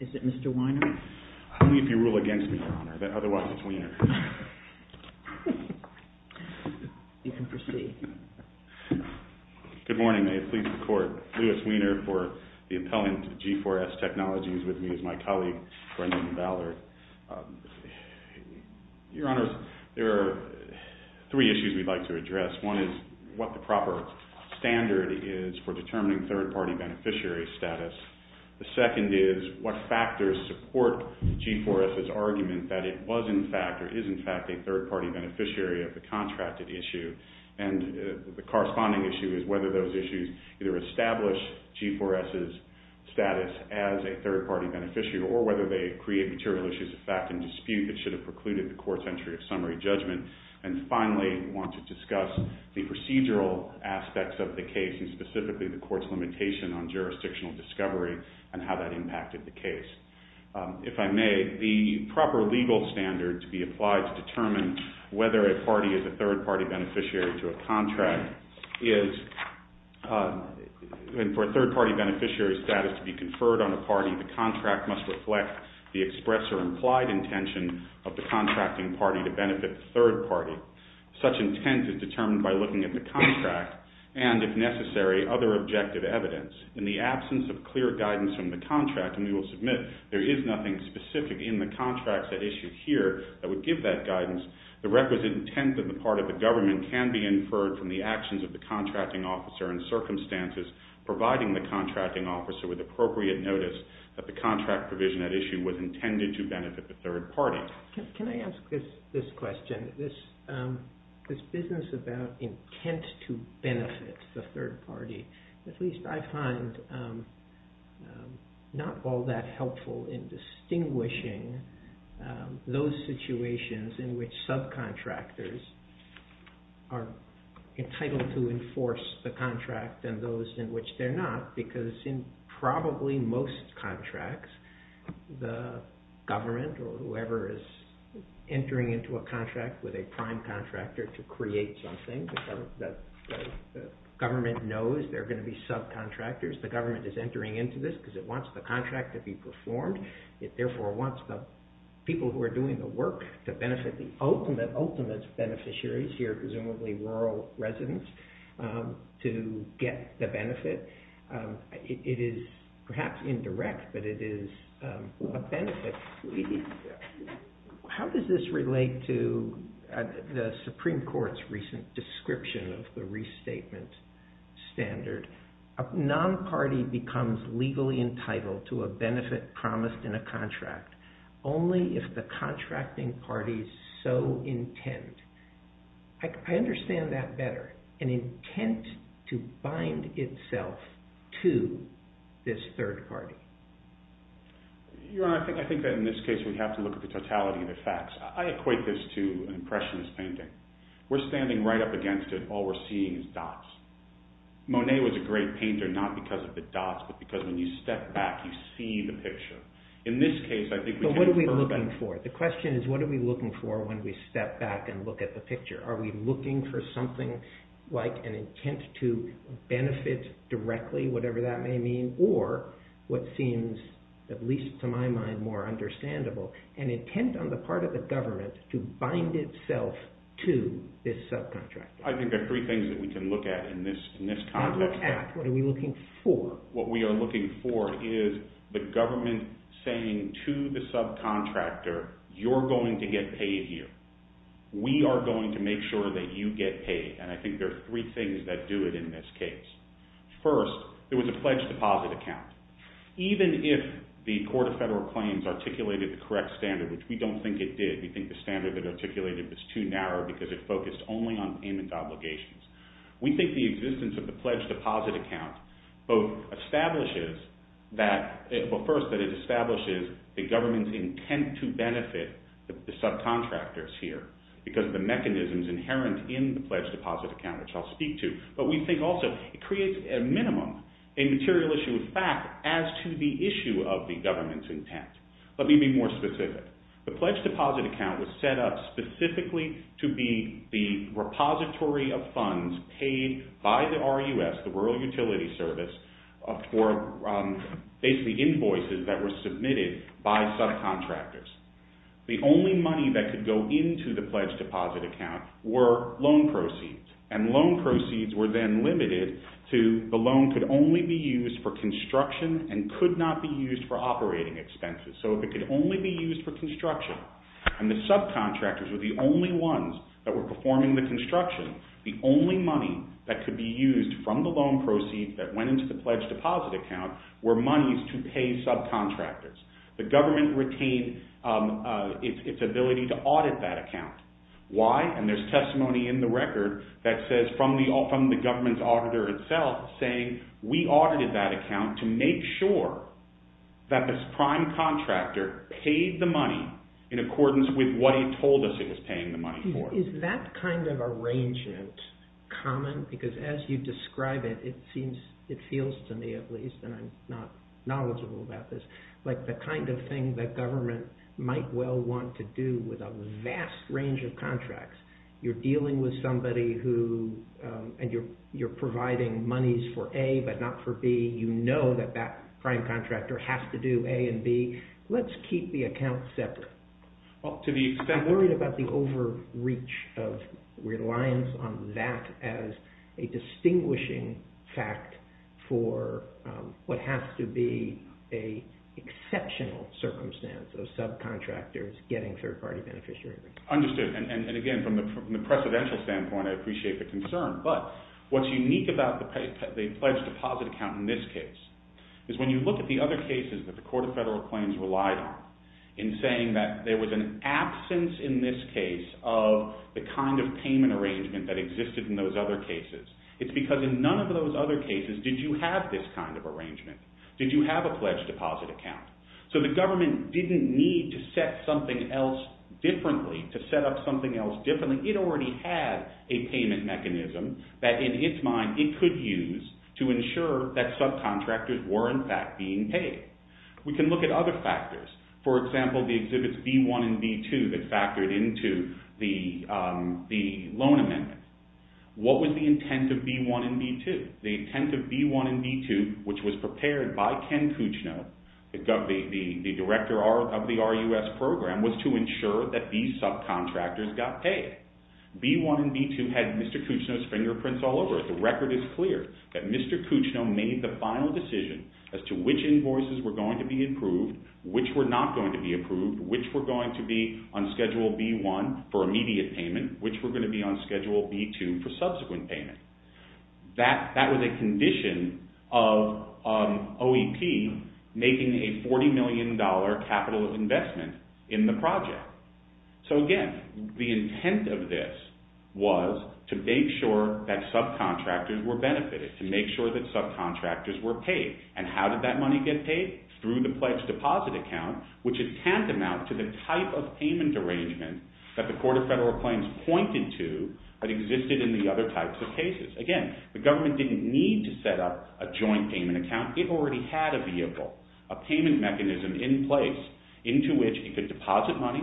Is it Mr. Weiner? Only if you rule against me, Your Honor, otherwise it's Weiner. You can proceed. Good morning, may it please the Court. Lewis Weiner for the appellant to G4S Technologies with me is my colleague, Brendan Ballard. Your Honor, there are three issues we'd like to address. One is what the proper standard is for determining third-party beneficiary status. The second is what factors support G4S's argument that it was in fact or is in fact a third-party beneficiary of the contracted issue. And the corresponding issue is whether those issues either establish G4S's status as a third-party beneficiary or whether they create material issues of fact and dispute that should have precluded the Court's entry of summary judgment. And finally, we want to discuss the procedural aspects of the case, and specifically the Court's limitation on jurisdictional discovery and how that impacted the case. If I may, the proper legal standard to be applied to determine whether a party is a third-party beneficiary to a contract is for a third-party beneficiary status to be conferred on a party, the contract must reflect the express or implied intention of the contracting party to benefit the third party. Such intent is determined by looking at the contract and, if necessary, other objective evidence. In the absence of clear guidance from the contract, and we will submit there is nothing specific in the contracts at issue here that would give that guidance, the requisite intent on the part of the government can be inferred from the actions of the contracting officer and circumstances providing the contracting officer with appropriate notice that the contract provision at issue was intended to benefit the third party. Can I ask this question? This business about intent to benefit the third party, at least I find not all that helpful in distinguishing those situations in which subcontractors are entitled to enforce the contract and those in which they're not, because in probably most contracts, the government or whoever is entering into a contract with a prime contractor to create something, the government knows there are going to be subcontractors, the government is entering into this because it wants the contract to be performed, it therefore wants the people who are doing the work to benefit the ultimate beneficiaries here, presumably rural residents, to get the benefit. It is perhaps indirect, but it is a benefit. How does this relate to the Supreme Court's recent description of the restatement standard? A non-party becomes legally entitled to a benefit promised in a contract only if the contracting party is so intent. I understand that better, an intent to bind itself to this third party. Your Honor, I think that in this case we have to look at the totality of the facts. I equate this to an impressionist painting. We're standing right up against it, all we're seeing is dots. Monet was a great painter, not because of the dots, but because when you step back, you see the picture. But what are we looking for? The question is, what are we looking for when we step back and look at the picture? Are we looking for something like an intent to benefit directly, whatever that may mean, or what seems, at least to my mind, more understandable, an intent on the part of the government to bind itself to this subcontractor. I think there are three things that we can look at in this context. Not look at, what are we looking for? What we are looking for is the government saying to the subcontractor, you're going to get paid here. We are going to make sure that you get paid, and I think there are three things that do it in this case. First, it was a pledged deposit account. Even if the Court of Federal Claims articulated the correct standard, which we don't think it did, we think the standard that it articulated was too narrow because it focused only on payment obligations. We think the existence of the pledged deposit account both establishes that – well, first, that it establishes the government's intent to benefit the subcontractors here because of the mechanisms inherent in the pledged deposit account, which I'll speak to. But we think also it creates a minimum, a material issue of fact as to the issue of the government's intent. Let me be more specific. The pledged deposit account was set up specifically to be the repository of funds paid by the RUS, the Rural Utility Service, for basically invoices that were submitted by subcontractors. The only money that could go into the pledged deposit account were loan proceeds, and loan proceeds were then limited to the loan could only be used for construction and could not be used for operating expenses. So if it could only be used for construction and the subcontractors were the only ones that were performing the construction, the only money that could be used from the loan proceeds that went into the pledged deposit account were monies to pay subcontractors. The government retained its ability to audit that account. Why? And there's testimony in the record that says from the government's auditor itself saying, we audited that account to make sure that this prime contractor paid the money in accordance with what he told us he was paying the money for. Is that kind of arrangement common? Because as you describe it, it feels to me at least, and I'm not knowledgeable about this, like the kind of thing that government might well want to do with a vast range of contracts. You're dealing with somebody and you're providing monies for A but not for B. You know that that prime contractor has to do A and B. Let's keep the accounts separate. I'm worried about the overreach of reliance on that as a distinguishing fact for what has to be an exceptional circumstance of subcontractors getting third-party beneficiaries. Understood. And again, from the precedential standpoint, I appreciate the concern. But what's unique about the pledged deposit account in this case is when you look at the other cases that the Court of Federal Claims relied on in saying that there was an absence in this case of the kind of payment arrangement that existed in those other cases. It's because in none of those other cases did you have this kind of arrangement. Did you have a pledged deposit account? So the government didn't need to set up something else differently. It already had a payment mechanism that in its mind it could use to ensure that subcontractors were in fact being paid. We can look at other factors. For example, the exhibits B-1 and B-2 that factored into the loan amendment. What was the intent of B-1 and B-2? The intent of B-1 and B-2, which was prepared by Ken Cuccino, the director of the RUS program, was to ensure that these subcontractors got paid. B-1 and B-2 had Mr. Cuccino's fingerprints all over it. The record is clear that Mr. Cuccino made the final decision as to which invoices were going to be approved, which were not going to be approved, which were going to be on Schedule B-1 for immediate payment, which were going to be on Schedule B-2 for subsequent payment. That was a condition of OEP making a $40 million capital investment in the project. Again, the intent of this was to make sure that subcontractors were benefited, to make sure that subcontractors were paid. How did that money get paid? Through the pledge deposit account, which is tantamount to the type of payment arrangement that the Court of Federal Claims pointed to that existed in the other types of cases. Again, the government didn't need to set up a joint payment account. It already had a vehicle, a payment mechanism in place into which it could deposit money.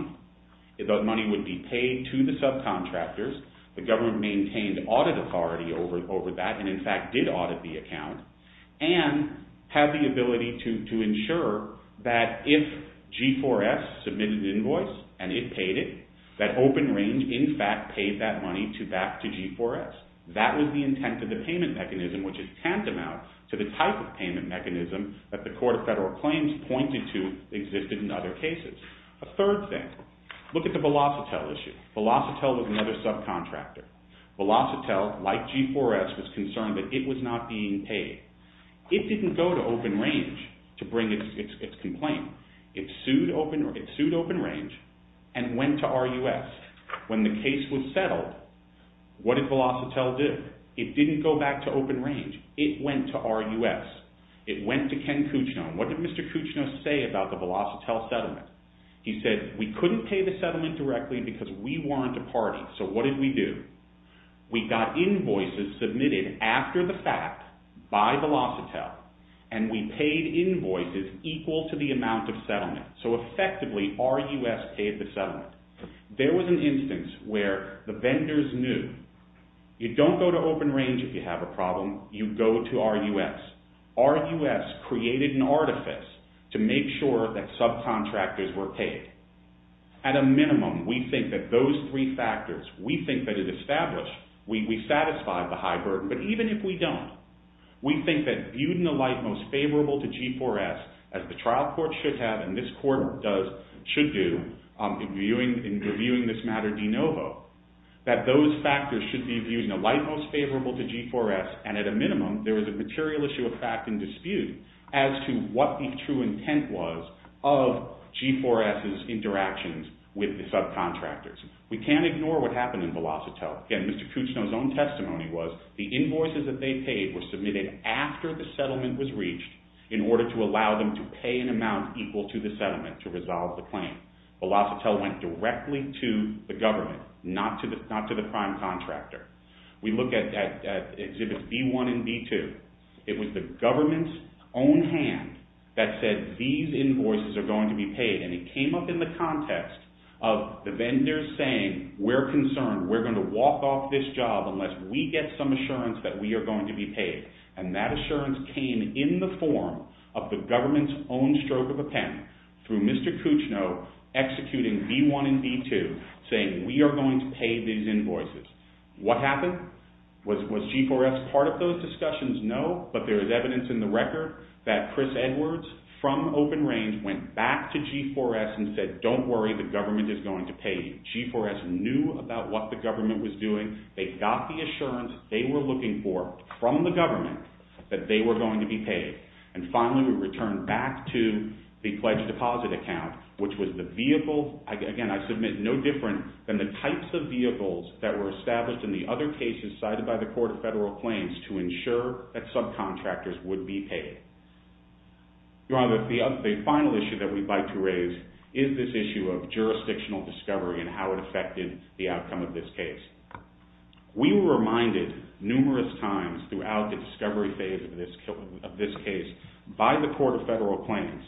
The money would be paid to the subcontractors. The government maintained audit authority over that and, in fact, did audit the account and had the ability to ensure that if G4S submitted an invoice and it paid it, that Open Range, in fact, paid that money back to G4S. That was the intent of the payment mechanism, which is tantamount to the type of payment mechanism that the Court of Federal Claims pointed to existed in other cases. A third thing, look at the Velocitel issue. Velocitel was another subcontractor. Velocitel, like G4S, was concerned that it was not being paid. It didn't go to Open Range to bring its complaint. It sued Open Range and went to RUS. When the case was settled, what did Velocitel do? It didn't go back to Open Range. It went to RUS. It went to Ken Cuccino. What did Mr. Cuccino say about the Velocitel settlement? He said, we couldn't pay the settlement directly because we weren't a party. So what did we do? We got invoices submitted after the fact by Velocitel, and we paid invoices equal to the amount of settlement. So effectively, RUS paid the settlement. There was an instance where the vendors knew, you don't go to Open Range if you have a problem. You go to RUS. RUS created an artifice to make sure that subcontractors were paid. At a minimum, we think that those three factors, we think that it established, we satisfied the high burden. But even if we don't, we think that viewed in the light most favorable to G4S, as the trial court should have and this court should do in reviewing this matter de novo, that those factors should be viewed in the light most favorable to G4S, and at a minimum, there was a material issue of fact and dispute as to what the true intent was of G4S's interactions with the subcontractors. We can't ignore what happened in Velocitel. Again, Mr. Kuchno's own testimony was the invoices that they paid were submitted after the settlement was reached in order to allow them to pay an amount equal to the settlement to resolve the claim. Velocitel went directly to the government, not to the prime contractor. We look at Exhibits B1 and B2. It was the government's own hand that said, these invoices are going to be paid, and it came up in the context of the vendors saying, we're concerned, we're going to walk off this job unless we get some assurance that we are going to be paid. And that assurance came in the form of the government's own stroke of a pen through Mr. Kuchno executing B1 and B2, saying we are going to pay these invoices. What happened? Was G4S part of those discussions? No. But there is evidence in the record that Chris Edwards from Open Range went back to G4S and said, don't worry, the government is going to pay you. G4S knew about what the government was doing. They got the assurance they were looking for from the government that they were going to be paid. And finally, we returned back to the pledged deposit account, which was the vehicle. Again, I submit no different than the types of vehicles that were established in the other cases cited by the Court of Federal Claims to ensure that subcontractors would be paid. Your Honor, the final issue that we'd like to raise is this issue of jurisdictional discovery and how it affected the outcome of this case. We were reminded numerous times throughout the discovery phase of this case by the Court of Federal Claims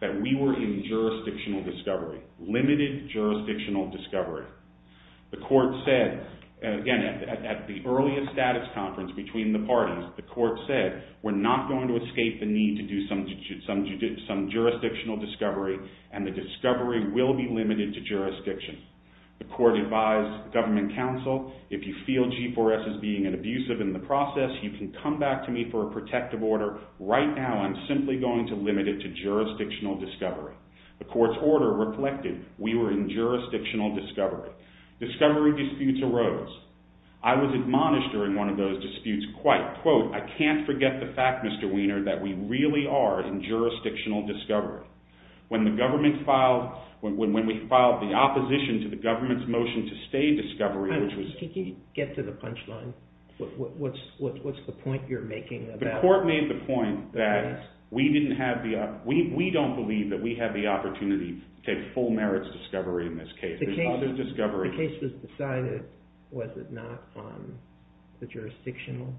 that we were in jurisdictional discovery, limited jurisdictional discovery. The Court said, again, at the earliest status conference between the parties, the Court said, we're not going to escape the need to do some jurisdictional discovery and the discovery will be limited to jurisdiction. The Court advised the government counsel, if you feel G4S is being abusive in the process, you can come back to me for a protective order. Right now, I'm simply going to limit it to jurisdictional discovery. The Court's order reflected we were in jurisdictional discovery. Discovery disputes arose. I was admonished during one of those disputes quite, quote, I can't forget the fact, Mr. Wiener, that we really are in jurisdictional discovery. When the government filed, when we filed the opposition to the government's motion to stay discovery, which was... Can you get to the punchline? What's the point you're making? The Court made the point that we didn't have the, we don't believe that we have the opportunity to take full merits discovery in this case. The case was decided, was it not, on the jurisdictional?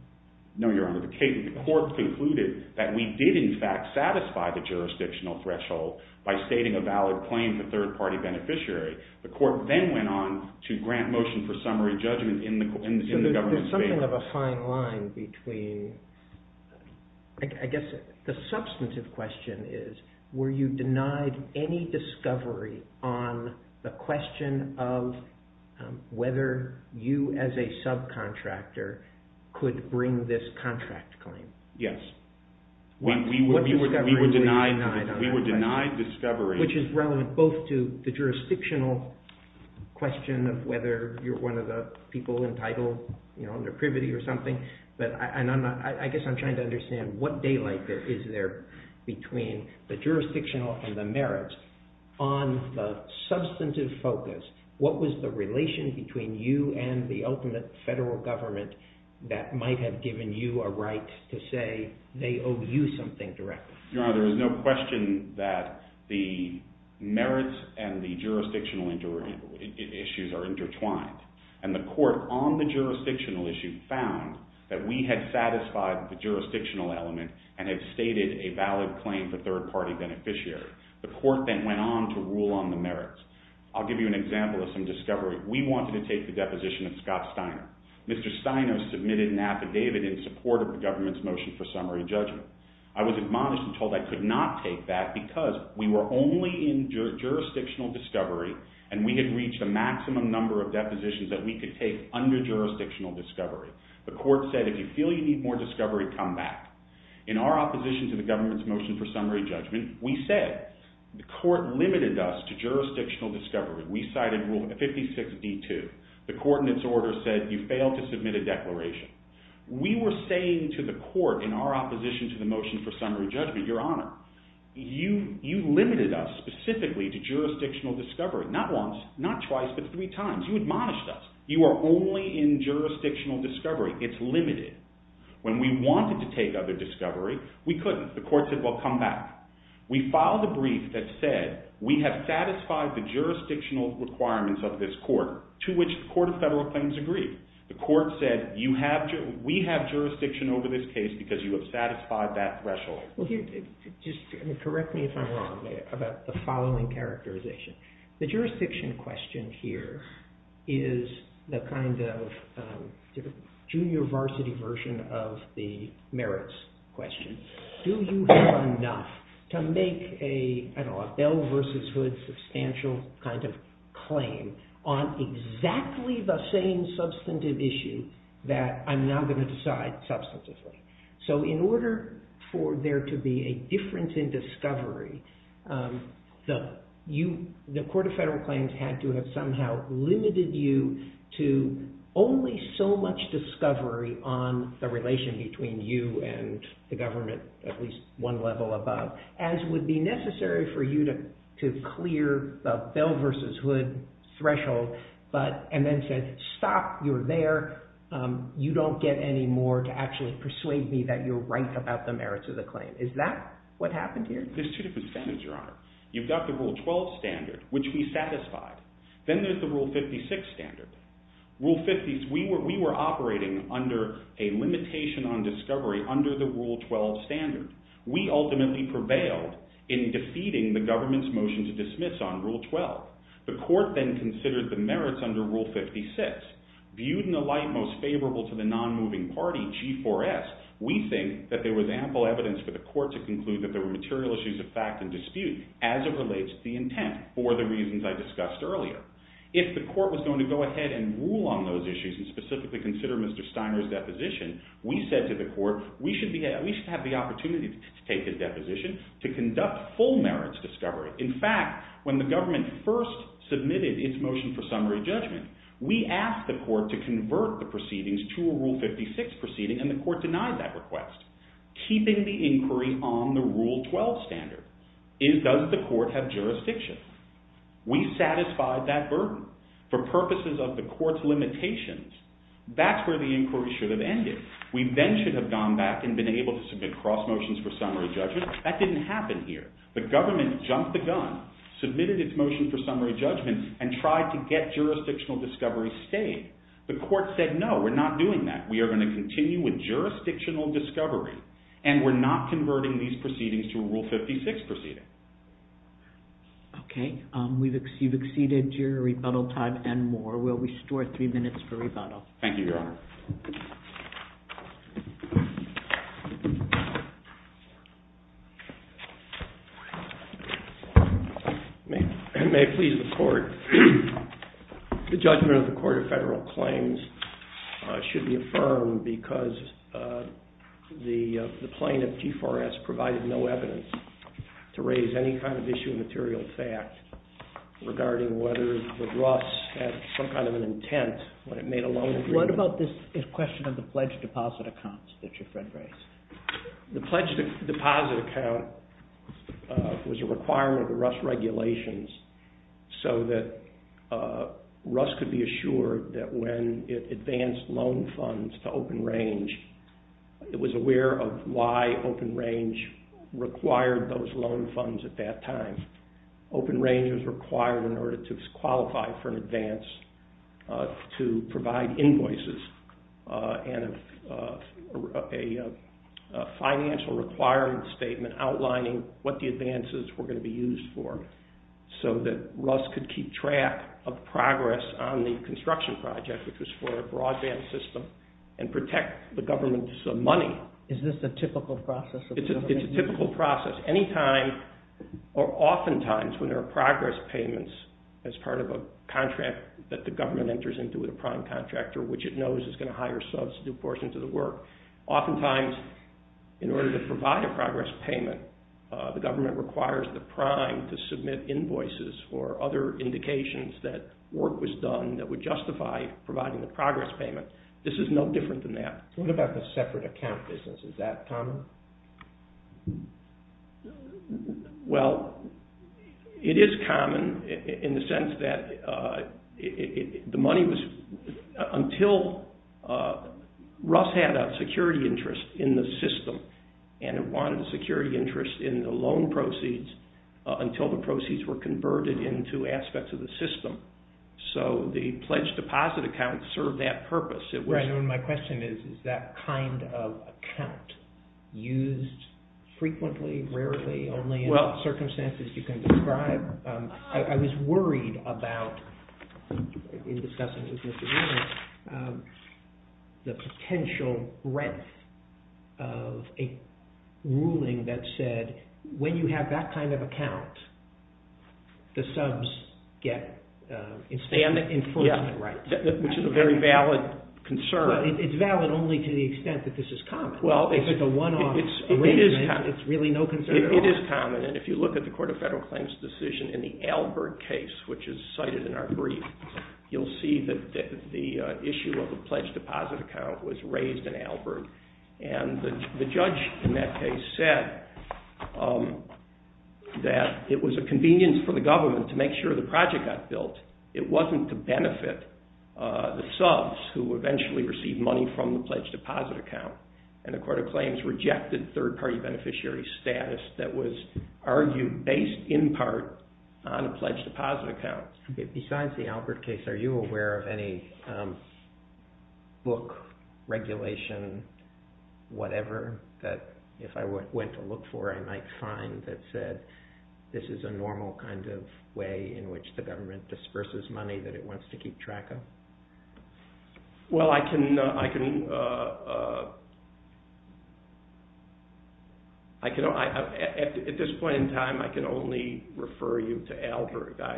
No, Your Honor. The Court concluded that we did, in fact, satisfy the jurisdictional threshold by stating a valid claim for third-party beneficiary. The Court then went on to grant motion for summary judgment in the government's favor. There's something of a fine line between, I guess the substantive question is, were you denied any discovery on the question of whether you as a subcontractor could bring this contract claim? Yes. We were denied discovery. Which is relevant both to the jurisdictional question of whether you're one of the people entitled, you know, under privity or something, but I guess I'm trying to understand what daylight is there between the jurisdictional and the merits. On the substantive focus, what was the relation between you and the ultimate federal government that might have given you a right to say they owe you something directly? Your Honor, there is no question that the merits and the jurisdictional issues are intertwined. And the Court on the jurisdictional issue found that we had satisfied the jurisdictional element and had stated a valid claim for third-party beneficiary. The Court then went on to rule on the merits. I'll give you an example of some discovery. We wanted to take the deposition of Scott Steiner. Mr. Steiner submitted an affidavit in support of the government's motion for summary judgment. I was admonished and told I could not take that because we were only in jurisdictional discovery and we had reached the maximum number of depositions that we could take under jurisdictional discovery. The Court said, if you feel you need more discovery, come back. In our opposition to the government's motion for summary judgment, we said the Court limited us to jurisdictional discovery. We cited Rule 56D2. The Court in its order said you failed to submit a declaration. We were saying to the Court in our opposition to the motion for summary judgment, you limited us specifically to jurisdictional discovery, not once, not twice, but three times. You admonished us. You are only in jurisdictional discovery. It's limited. When we wanted to take other discovery, we couldn't. The Court said, well, come back. We filed a brief that said we have satisfied the jurisdictional requirements of this Court, to which the Court of Federal Claims agreed. The Court said we have jurisdiction over this case because you have satisfied that threshold. Just correct me if I'm wrong about the following characterization. The jurisdiction question here is the kind of junior varsity version of the merits question. Do you have enough to make a Bell versus Hood substantial kind of claim on exactly the same substantive issue that I'm now going to decide substantively? In order for there to be a difference in discovery, the Court of Federal Claims had to have somehow limited you to only so much discovery on the relation between you and the government, at least one level above, as would be necessary for you to clear the Bell versus Hood threshold and then said, stop. You're there. You don't get any more to actually persuade me that you're right about the merits of the claim. Is that what happened here? There's two different standards, Your Honor. You've got the Rule 12 standard, which we satisfied. Then there's the Rule 56 standard. Rule 56, we were operating under a limitation on discovery under the Rule 12 standard. We ultimately prevailed in defeating the government's motion to dismiss on Rule 12. The Court then considered the merits under Rule 56. Viewed in the light most favorable to the nonmoving party, G4S, we think that there was ample evidence for the court to conclude that there were material issues of fact and dispute as it relates to the intent for the reasons I discussed earlier. If the court was going to go ahead and rule on those issues and specifically consider Mr. Steiner's deposition, we said to the court, we should have the opportunity to take his deposition to conduct full merits discovery. In fact, when the government first submitted its motion for summary judgment, we asked the court to convert the proceedings to a Rule 56 proceeding, and the court denied that request. Keeping the inquiry on the Rule 12 standard, does the court have jurisdiction? We satisfied that burden. For purposes of the court's limitations, that's where the inquiry should have ended. We then should have gone back and been able to submit cross motions for summary judgment. That didn't happen here. The government jumped the gun, submitted its motion for summary judgment, and tried to get jurisdictional discovery stayed. The court said, no, we're not doing that. We are going to continue with jurisdictional discovery, and we're not converting these proceedings to a Rule 56 proceeding. Okay. You've exceeded your rebuttal time and more. We'll restore three minutes for rebuttal. Thank you, Your Honor. May I please report? The judgment of the Court of Federal Claims should be affirmed because the plaintiff, G4S, provided no evidence to raise any kind of issue of material fact regarding whether the Ross had some kind of an intent when it made a loan agreement. What about this question of the pledged deposit accounts that your friend raised? The pledged deposit account was a requirement of the Ross regulations so that Ross could be assured that when it advanced loan funds to Open Range, it was aware of why Open Range required those loan funds at that time. Open Range was required in order to qualify for an advance to provide invoices and a financial requirement statement outlining what the advances were going to be used for so that Ross could keep track of progress on the construction project, which was for a broadband system, and protect the government's money. Is this a typical process? It's a typical process. Anytime or oftentimes when there are progress payments as part of a contract that the government enters into with a prime contractor, which it knows is going to hire a substitute person to the work, oftentimes in order to provide a progress payment, the government requires the prime to submit invoices for other indications that work was done that would justify providing the progress payment. This is no different than that. What about the separate account business? Is that common? Well, it is common in the sense that the money was, until Ross had a security interest in the system and it wanted a security interest in the loan proceeds until the proceeds were converted into aspects of the system. So the pledged deposit account served that purpose. My question is, is that kind of account used frequently, rarely, only in circumstances you can describe? I was worried about, in discussing it with Mr. Williams, the potential breadth of a ruling that said, when you have that kind of account, the subs get enforcement rights. Which is a very valid concern. It's valid only to the extent that this is common. If it's a one-off arrangement, it's really no concern at all. It is common, and if you look at the Court of Federal Claims decision in the Albert case, which is cited in our brief, you'll see that the issue of a pledged deposit account was raised in Albert. And the judge in that case said that it was a convenience for the government to make sure the project got built. It wasn't to benefit the subs, who eventually received money from the pledged deposit account. And the Court of Claims rejected third-party beneficiary status that was argued based in part on a pledged deposit account. Besides the Albert case, are you aware of any book, regulation, whatever, that if I went to look for, I might find that said, this is a normal kind of way in which the government disperses money that it wants to keep track of? Well, at this point in time, I can only refer you to Albert. But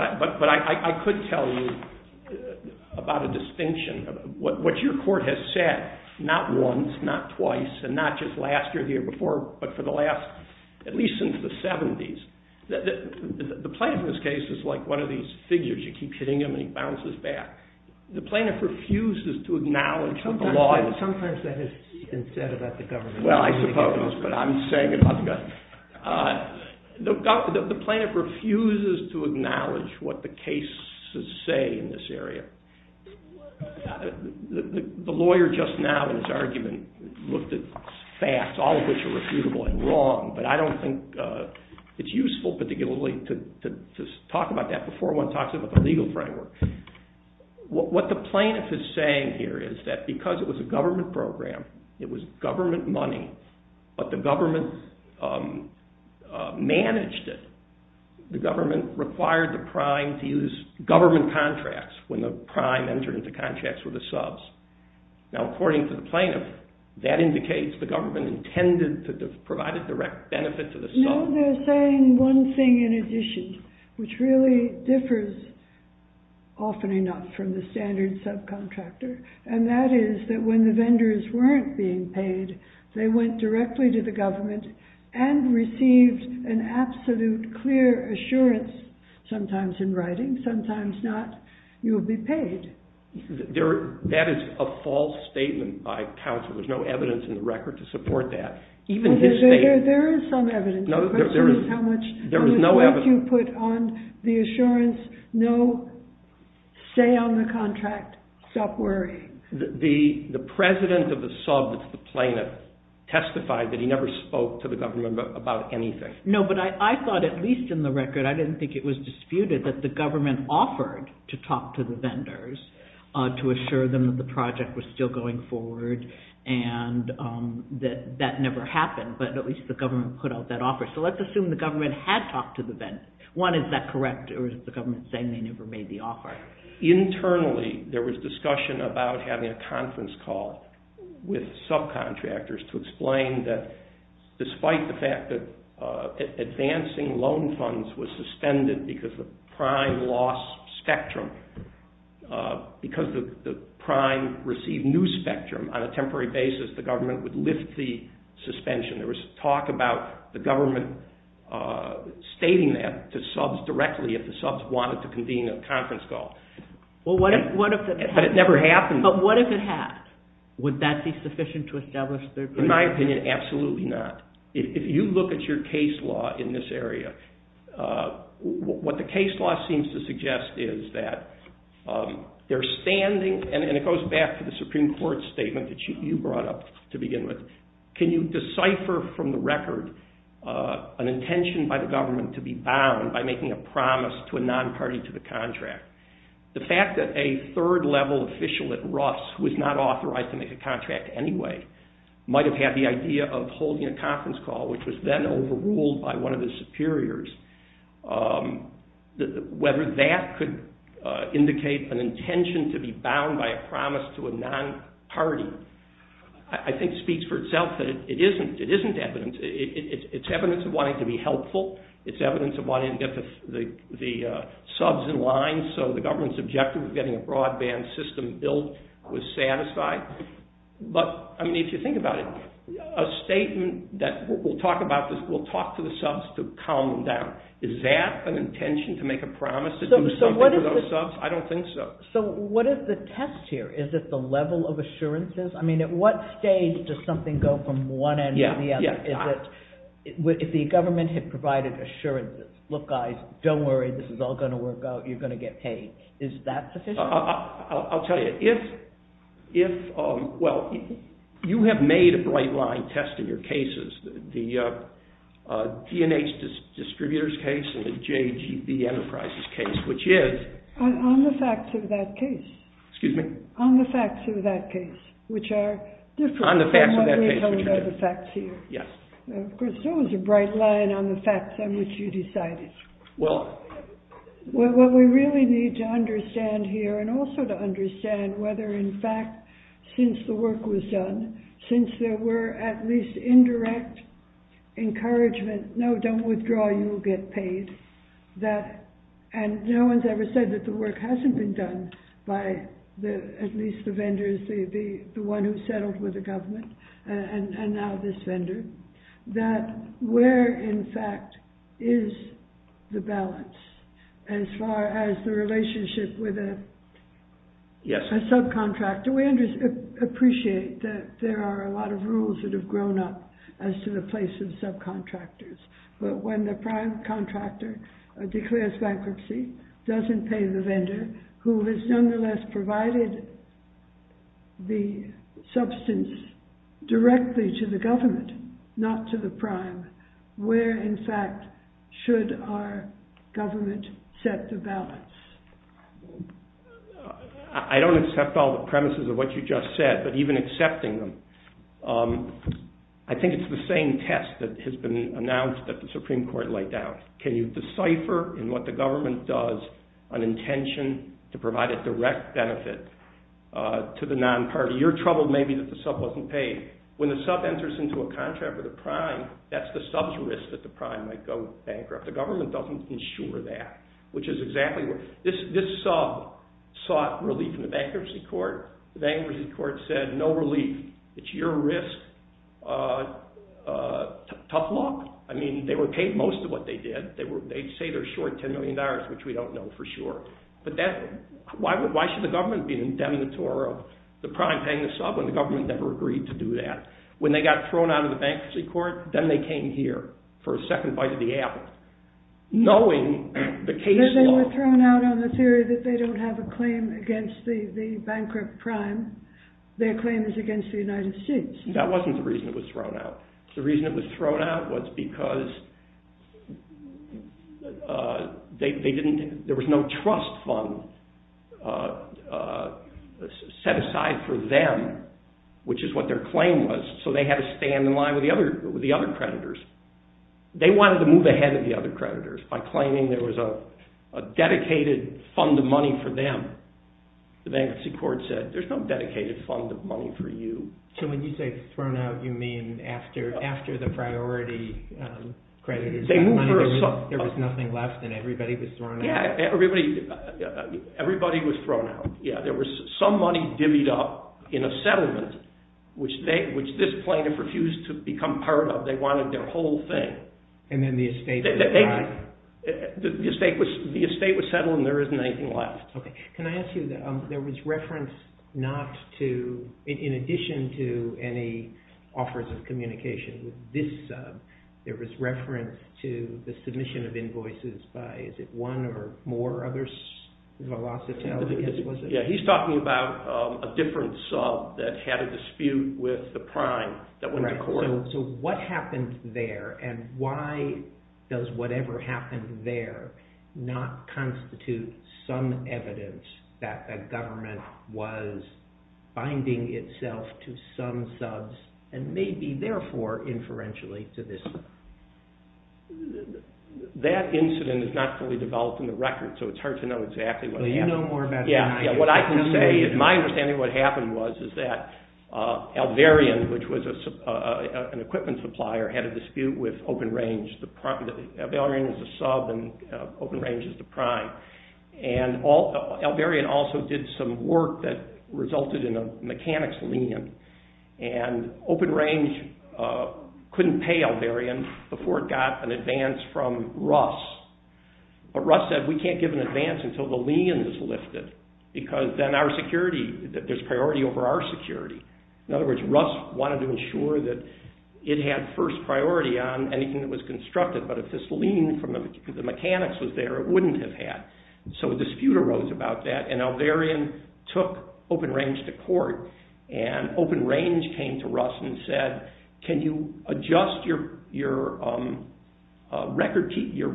I could tell you about a distinction. What your court has said, not once, not twice, and not just last year or the year before, but for the last, at least since the 70s, the plaintiff in this case is like one of these figures. You keep hitting him and he bounces back. The plaintiff refuses to acknowledge what the law... Sometimes that has been said about the government. Well, I suppose, but I'm saying it about the government. The plaintiff refuses to acknowledge what the cases say in this area. The lawyer just now in his argument looked at facts, all of which are refutable and wrong, but I don't think it's useful particularly to talk about that before one talks about the legal framework. What the plaintiff is saying here is that because it was a government program, it was government money, but the government managed it. The government required the prime to use government contracts when the prime entered into contracts with the subs. Now, according to the plaintiff, that indicates the government intended to provide a direct benefit to the subs. No, they're saying one thing in addition, which really differs often enough from the standard subcontractor, and that is that when the vendors weren't being paid, they went directly to the government and received an absolute clear assurance, sometimes in writing, sometimes not. You will be paid. That is a false statement by counsel. There's no evidence in the record to support that. There is some evidence. The question is what you put on the assurance, no say on the contract, stop worrying. The president of the sub that's the plaintiff testified that he never spoke to the government about anything. No, but I thought at least in the record, I didn't think it was disputed that the government offered to talk to the vendors to assure them that the project was still going forward and that that never happened, but at least the government put out that offer. So let's assume the government had talked to the vendors. One, is that correct, or is the government saying they never made the offer? Internally, there was discussion about having a conference call with subcontractors to explain that despite the fact that advancing loan funds was suspended because of prime loss spectrum, because the prime received new spectrum on a temporary basis, the government would lift the suspension. There was talk about the government stating that to subs directly if the subs wanted to convene a conference call. But it never happened. But what if it had? Would that be sufficient to establish their position? In my opinion, absolutely not. If you look at your case law in this area, what the case law seems to suggest is that they're standing, and it goes back to the Supreme Court statement that you brought up to begin with, can you decipher from the record an intention by the government to be bound by making a promise to a non-party to the contract? The fact that a third-level official at Russ, who is not authorized to make a contract anyway, might have had the idea of holding a conference call, which was then overruled by one of the superiors, whether that could indicate an intention to be bound by a promise to a non-party, I think speaks for itself that it isn't evidence. It's evidence of wanting to be helpful. It's evidence of wanting to get the subs in line so the government's objective of getting a broadband system built was satisfied. But if you think about it, a statement that we'll talk to the subs to calm them down, is that an intention to make a promise to do something for those subs? I don't think so. So what is the test here? Is it the level of assurances? At what stage does something go from one end to the other? If the government had provided assurances, look guys, don't worry, this is all going to work out, you're going to get paid, is that sufficient? I'll tell you. If, well, you have made a bright line test in your cases, the D&H distributors case and the JGB Enterprises case, which is... On the facts of that case. Excuse me? On the facts of that case, which are different... On the facts of that case, which are different. Of course, there was a bright line on the facts on which you decided. Well... What we really need to understand here, and also to understand, whether in fact, since the work was done, since there were at least indirect encouragement, no, don't withdraw, you'll get paid, and no one's ever said that the work hasn't been done by at least the vendors, the one who settled with the government, and now this vendor, that where, in fact, is the balance, as far as the relationship with a subcontractor? We appreciate that there are a lot of rules that have grown up as to the place of subcontractors, but when the prime contractor declares bankruptcy, doesn't pay the vendor, who has nonetheless provided the substance directly to the government, not to the prime, where, in fact, should our government set the balance? I don't accept all the premises of what you just said, but even accepting them, I think it's the same test that has been announced that the Supreme Court laid down. Can you decipher in what the government does an intention to provide a direct benefit to the non-party? You're troubled, maybe, that the sub wasn't paid. When the sub enters into a contract with a prime, that's the sub's risk that the prime might go bankrupt. The government doesn't insure that, which is exactly what, this sub sought relief in the bankruptcy court. The bankruptcy court said, no relief, it's your risk, tough luck. I mean, they were paid most of what they did. They say they're short $10 million, which we don't know for sure, but why should the government be the indemnitor of the prime paying the sub when the government never agreed to do that? When they got thrown out of the bankruptcy court, then they came here for a second bite of the apple, knowing the case law. They were thrown out on the theory that they don't have a claim against the bankrupt prime. Their claim is against the United States. That wasn't the reason it was thrown out. The reason it was thrown out was because there was no trust fund set aside for them, which is what their claim was, so they had to stand in line with the other creditors. They wanted to move ahead of the other creditors by claiming there was a dedicated fund of money for them. The bankruptcy court said, there's no dedicated fund of money for you. So when you say thrown out, you mean after the priority creditors got money, there was nothing left and everybody was thrown out? Yeah, everybody was thrown out. There was some money divvied up in a settlement, which this plaintiff refused to become part of. They wanted their whole thing. And then the estate was gone? The estate was settled and there isn't anything left. Okay, can I ask you, there was reference not to, in addition to any offers of communication with this sub, there was reference to the submission of invoices by, is it one or more others, Velocitel? Yeah, he's talking about a different sub that had a dispute with the prime that went to court. So what happened there and why does whatever happened there not constitute some evidence that the government was binding itself to some subs and maybe, therefore, inferentially to this sub? That incident is not fully developed in the record, so it's hard to know exactly what happened. Well, you know more about it than I do. Yeah, what I can say is my understanding of what happened was, is that Alvarian, which was an equipment supplier, had a dispute with Open Range. Alvarian is a sub and Open Range is the prime. And Alvarian also did some work that resulted in a mechanics lien. And Open Range couldn't pay Alvarian before it got an advance from Russ. But Russ said, we can't give an advance until the lien is lifted because then there's priority over our security. In other words, Russ wanted to ensure that it had first priority on anything that was constructed. But if this lien from the mechanics was there, it wouldn't have had. So a dispute arose about that and Alvarian took Open Range to court and Open Range came to Russ and said, can you adjust your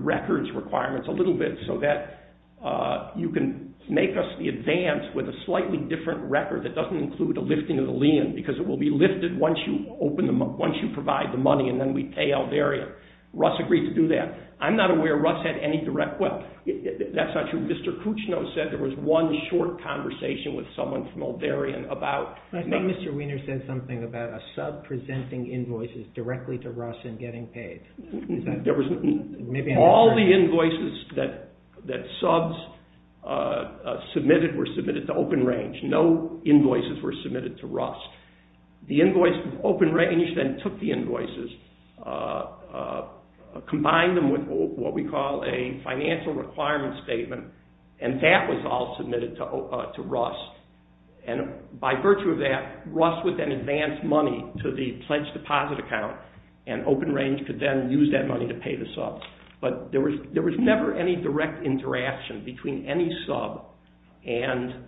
records requirements a little bit so that you can make us the advance with a slightly different record that doesn't include a lifting of the lien because it will be lifted once you provide the money and then we pay Alvarian. Russ agreed to do that. I'm not aware Russ had any direct – well, that's not true. Mr. Kuchno said there was one short conversation with someone from Alvarian about – I think Mr. Weiner said something about a sub presenting invoices directly to Russ and getting paid. There was – all the invoices that subs submitted were submitted to Open Range. No invoices were submitted to Russ. The invoice – Open Range then took the invoices, combined them with what we call a financial requirement statement and that was all submitted to Russ. And by virtue of that, Russ would then advance money to the pledge deposit account and Open Range could then use that money to pay the subs. But there was never any direct interaction between any sub and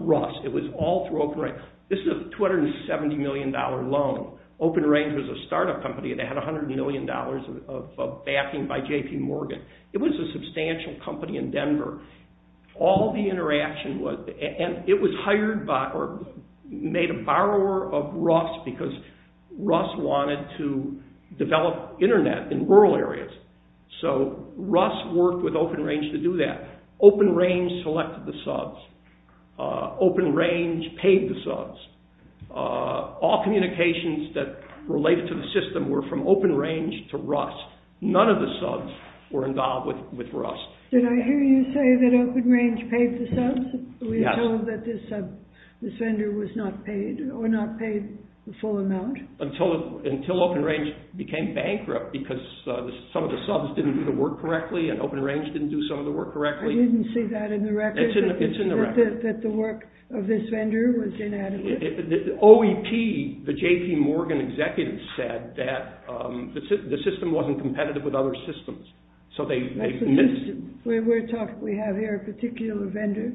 Russ. It was all through Open Range. This is a $270 million loan. Open Range was a startup company that had $100 million of backing by J.P. Morgan. It was a substantial company in Denver. All the interaction was – and it was hired by or made a borrower of Russ because Russ wanted to develop internet in rural areas. So Russ worked with Open Range to do that. Open Range selected the subs. Open Range paid the subs. All communications that relate to the system were from Open Range to Russ. None of the subs were involved with Russ. Did I hear you say that Open Range paid the subs? Yes. Until that this vendor was not paid or not paid the full amount? Until Open Range became bankrupt because some of the subs didn't do the work correctly and Open Range didn't do some of the work correctly. I didn't see that in the record. It's in the record. That the work of this vendor was inadequate? OEP, the J.P. Morgan executive, said that the system wasn't competitive with other systems. So they missed – We have here a particular vendor,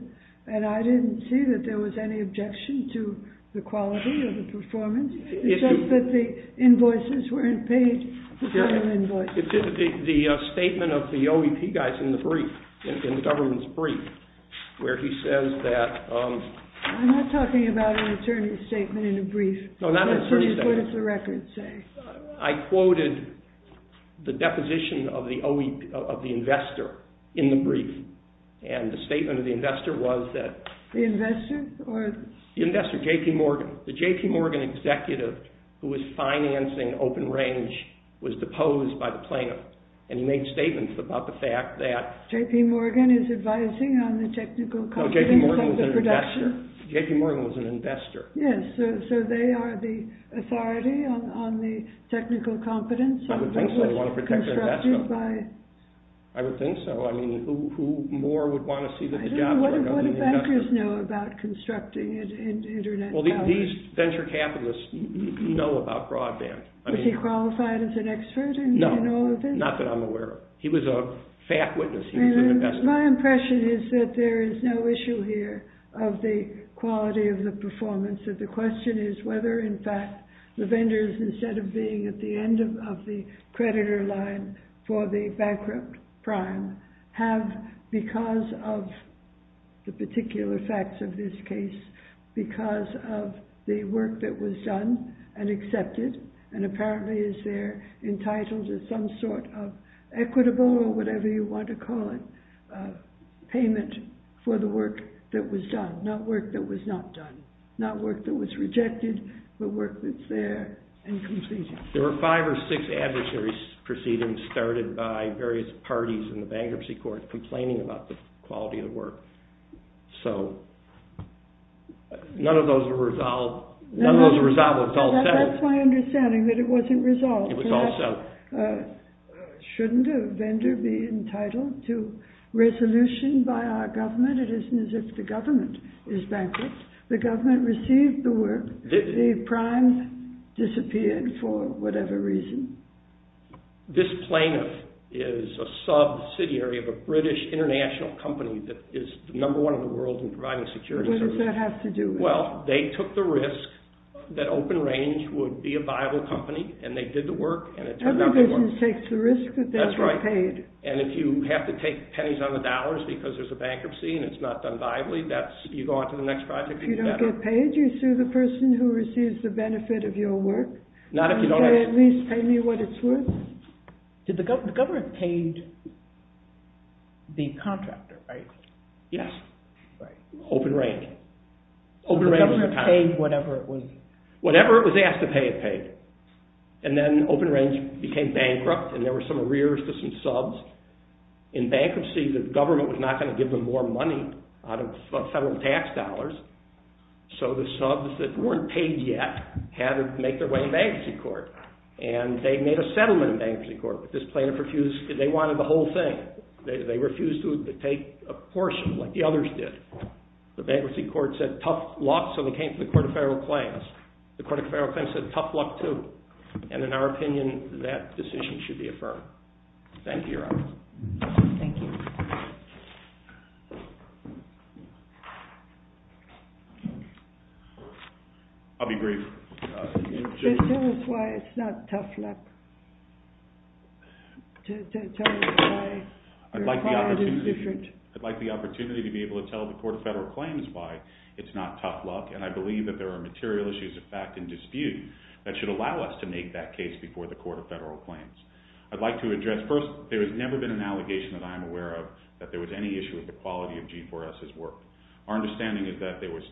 and I didn't see that there was any objection to the quality of the performance, except that the invoices weren't paid the final invoice. It's in the statement of the OEP guys in the brief, in the government's brief, where he says that – I'm not talking about an attorney's statement in a brief. No, not an attorney's statement. What does the record say? I quoted the deposition of the investor in the brief, and the statement of the investor was that – The investor? The investor, J.P. Morgan. The J.P. Morgan executive, who was financing Open Range, was deposed by the plaintiff, and he made statements about the fact that – J.P. Morgan is advising on the technical competence of the production? No, J.P. Morgan was an investor. J.P. Morgan was an investor. Yes. So they are the authority on the technical competence? I would think so. They want to protect their investment. Constructed by – I would think so. I mean, who more would want to see that the jobs were held by the investor? Well, these venture capitalists know about broadband. Was he qualified as an expert in all of this? No, not that I'm aware of. He was a fact witness. He was an investor. My impression is that there is no issue here of the quality of the performance. The question is whether, in fact, the vendors, instead of being at the end of the creditor line for the bankrupt prime, have, because of the particular facts of this case, because of the work that was done and accepted, and apparently is there entitled to some sort of equitable or whatever you want to call it payment for the work that was done, not work that was not done, not work that was rejected, but work that's there and completed. There were five or six adversaries proceedings started by various parties in the bankruptcy court complaining about the quality of the work. So none of those were resolved. None of those were resolved. It was all settled. That's my understanding, that it wasn't resolved. It was all settled. Shouldn't a vendor be entitled to resolution by our government? It isn't as if the government is bankrupt. The government received the work. The primes disappeared for whatever reason. This plaintiff is a subsidiary of a British international company that is number one in the world in providing security services. What does that have to do with it? Well, they took the risk that OpenRange would be a viable company, and they did the work, and it turned out to work. Every business takes the risk that they're not paid. That's right, and if you have to take pennies on the dollars because there's a bankruptcy and it's not done viably, you go on to the next project and you get better. If you're paid, you sue the person who receives the benefit of your work? Not if you don't have to. At least pay me what it's worth? The government paid the contractor, right? Yes. Right. OpenRange. The government paid whatever it was. Whatever it was asked to pay, it paid. And then OpenRange became bankrupt, and there were some arrears to some subs. In bankruptcy, the government was not going to give them more money out of federal tax dollars, so the subs that weren't paid yet had to make their way to bankruptcy court, and they made a settlement in bankruptcy court, but this plaintiff refused because they wanted the whole thing. They refused to take a portion like the others did. The bankruptcy court said tough luck, so they came to the Court of Federal Claims. The Court of Federal Claims said tough luck too, Thank you, Your Honor. Thank you. I'll be brief. Just tell us why it's not tough luck. Tell us why your client is different. I'd like the opportunity to be able to tell the Court of Federal Claims why it's not tough luck, and I believe that there are material issues of fact and dispute that should allow us to make that case before the Court of Federal Claims. First, there has never been an allegation that I am aware of that there was any issue with the quality of G4S's work. Our understanding is that there was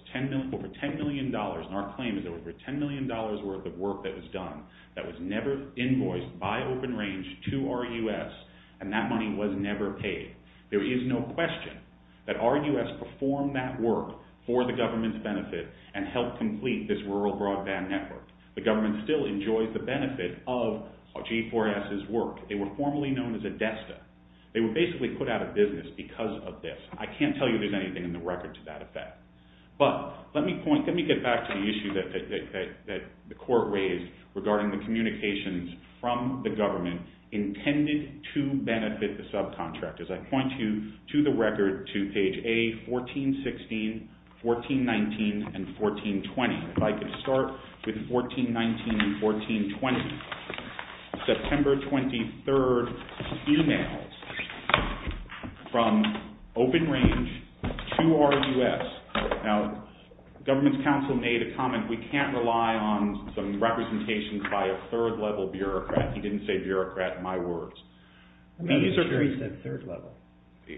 over $10 million, and our claim is there was over $10 million worth of work that was done that was never invoiced by OpenRange to RUS, and that money was never paid. There is no question that RUS performed that work for the government's benefit and helped complete this rural broadband network. The government still enjoys the benefit of G4S's work. They were formerly known as a DESTA. They were basically put out of business because of this. I can't tell you there's anything in the record to that effect. But let me get back to the issue that the Court raised regarding the communications from the government intended to benefit the subcontractors. I point you to the record to page A, 1416, 1419, and 1420. If I could start with 1419 and 1420. September 23rd e-mails from OpenRange to RUS. Now the government's counsel made a comment, we can't rely on some representations by a third-level bureaucrat. He didn't say bureaucrat in my words. He said third-level.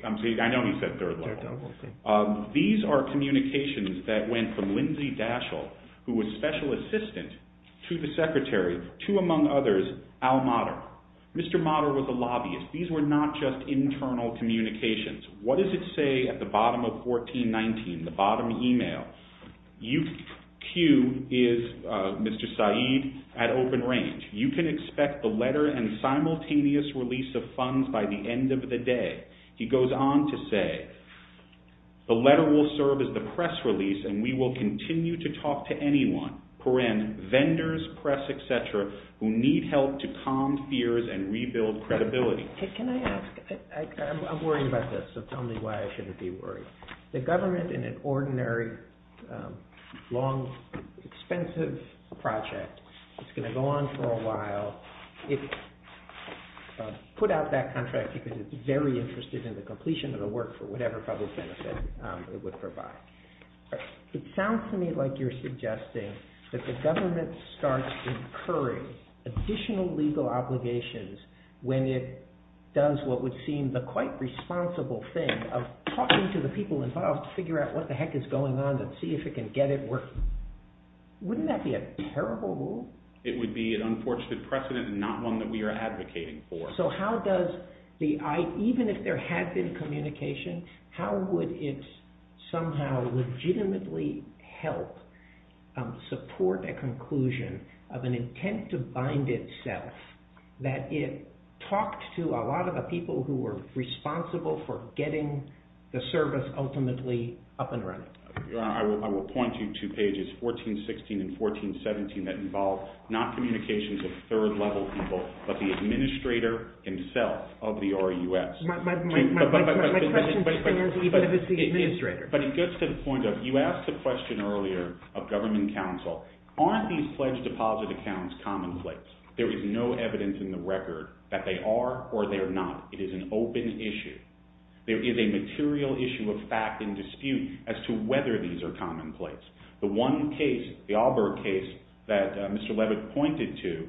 I know he said third-level. These are communications that went from Lindsay Daschle, who was Special Assistant, to the Secretary, to among others, Al Motter. Mr. Motter was a lobbyist. These were not just internal communications. What does it say at the bottom of 1419, the bottom e-mail? You, Q, is Mr. Saeed at OpenRange. You can expect the letter and simultaneous release of funds by the end of the day. He goes on to say, the letter will serve as the press release, and we will continue to talk to anyone, vendors, press, et cetera, who need help to calm fears and rebuild credibility. Can I ask, I'm worried about this, so tell me why I shouldn't be worried. The government, in an ordinary, long, expensive project, it's going to go on for a while. It put out that contract because it's very interested in the completion of the work for whatever public benefit it would provide. It sounds to me like you're suggesting that the government starts incurring additional legal obligations when it does what would seem the quite responsible thing of talking to the people involved to figure out what the heck is going on and see if it can get it working. Wouldn't that be a terrible rule? It would be an unfortunate precedent and not one that we are advocating for. So how does the, even if there had been communication, how would it somehow legitimately help support a conclusion of an intent to bind itself that it talked to a lot of the people who were responsible for getting the service ultimately up and running? Your Honor, I will point you to pages 1416 and 1417 that involve not communications of third-level people, but the administrator himself of the RUS. My question is, do we believe it's the administrator? But it gets to the point of, you asked the question earlier of government counsel, aren't these pledged deposit accounts commonplace? There is no evidence in the record that they are or they are not. It is an open issue. There is a material issue of fact and dispute as to whether these are commonplace. The one case, the Allberg case that Mr. Levitt pointed to,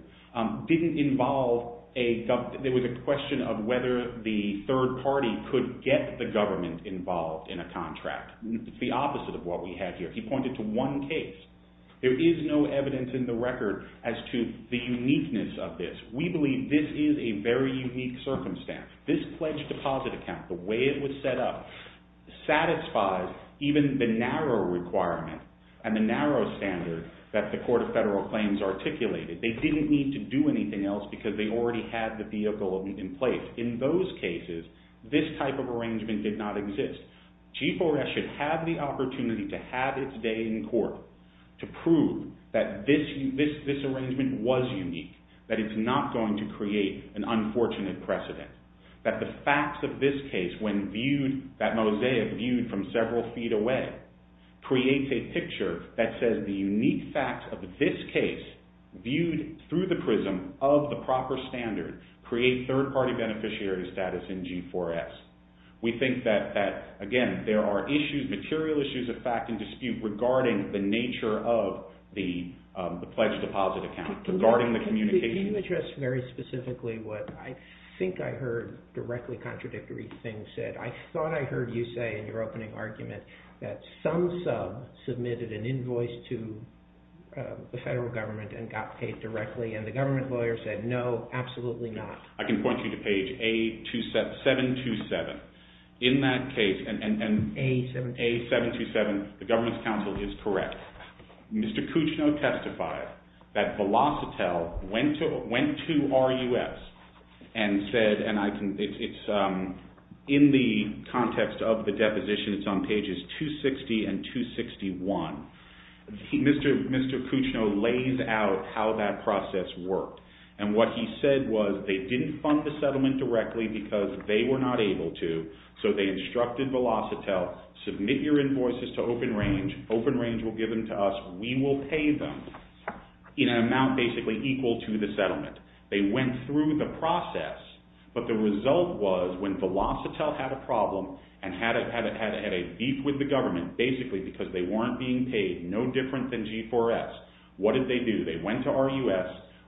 didn't involve a, there was a question of whether the third party could get the government involved in a contract. It's the opposite of what we have here. He pointed to one case. There is no evidence in the record as to the uniqueness of this. We believe this is a very unique circumstance. This pledged deposit account, the way it was set up, satisfies even the narrow requirement and the narrow standard that the Court of Federal Claims articulated. They didn't need to do anything else because they already had the vehicle in place. In those cases, this type of arrangement did not exist. Chief O'Rourke should have the opportunity to have its day in court to prove that this arrangement was unique, that it's not going to create an unfortunate precedent, that the facts of this case, when viewed, that mosaic viewed from several feet away, creates a picture that says the unique facts of this case, viewed through the prism of the proper standard, create third party beneficiary status in G4S. We think that, again, there are issues, material issues of fact and dispute regarding the nature of the pledged deposit account, regarding the communication... Can you address very specifically what I think I heard directly contradictory things said? I thought I heard you say in your opening argument that some sub submitted an invoice to the federal government and got paid directly, and the government lawyer said, no, absolutely not. I can point you to page A727. In that case, and A727, the government's counsel is correct. Mr. Cuccino testified that Velocitell went to RUS and said, and it's in the context of the deposition, it's on pages 260 and 261. Mr. Cuccino lays out how that process worked, and what he said was they didn't fund the settlement directly because they were not able to, so they instructed Velocitell, submit your invoices to Open Range, Open Range will give them to us, we will pay them in an amount basically equal to the settlement. They went through the process, but the result was when Velocitell had a problem and had a beef with the government, basically because they weren't being paid no different than G4S, what did they do? They went to RUS,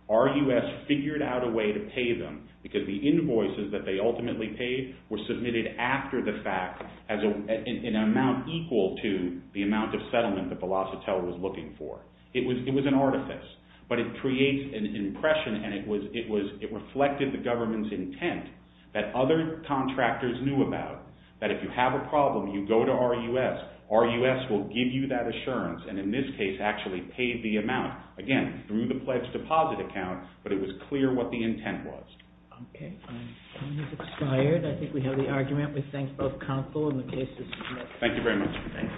RUS figured out a way to pay them because the invoices that they ultimately paid were submitted after the fact in an amount equal to the amount of settlement that Velocitell was looking for. It was an artifice, but it creates an impression and it reflected the government's intent that other contractors knew about, that if you have a problem, you go to RUS, RUS will give you that assurance, and in this case actually paid the amount, again, through the pledge deposit account, but it was clear what the intent was. Okay, time has expired. I think we have the argument. We thank both counsel and the cases. Thank you very much.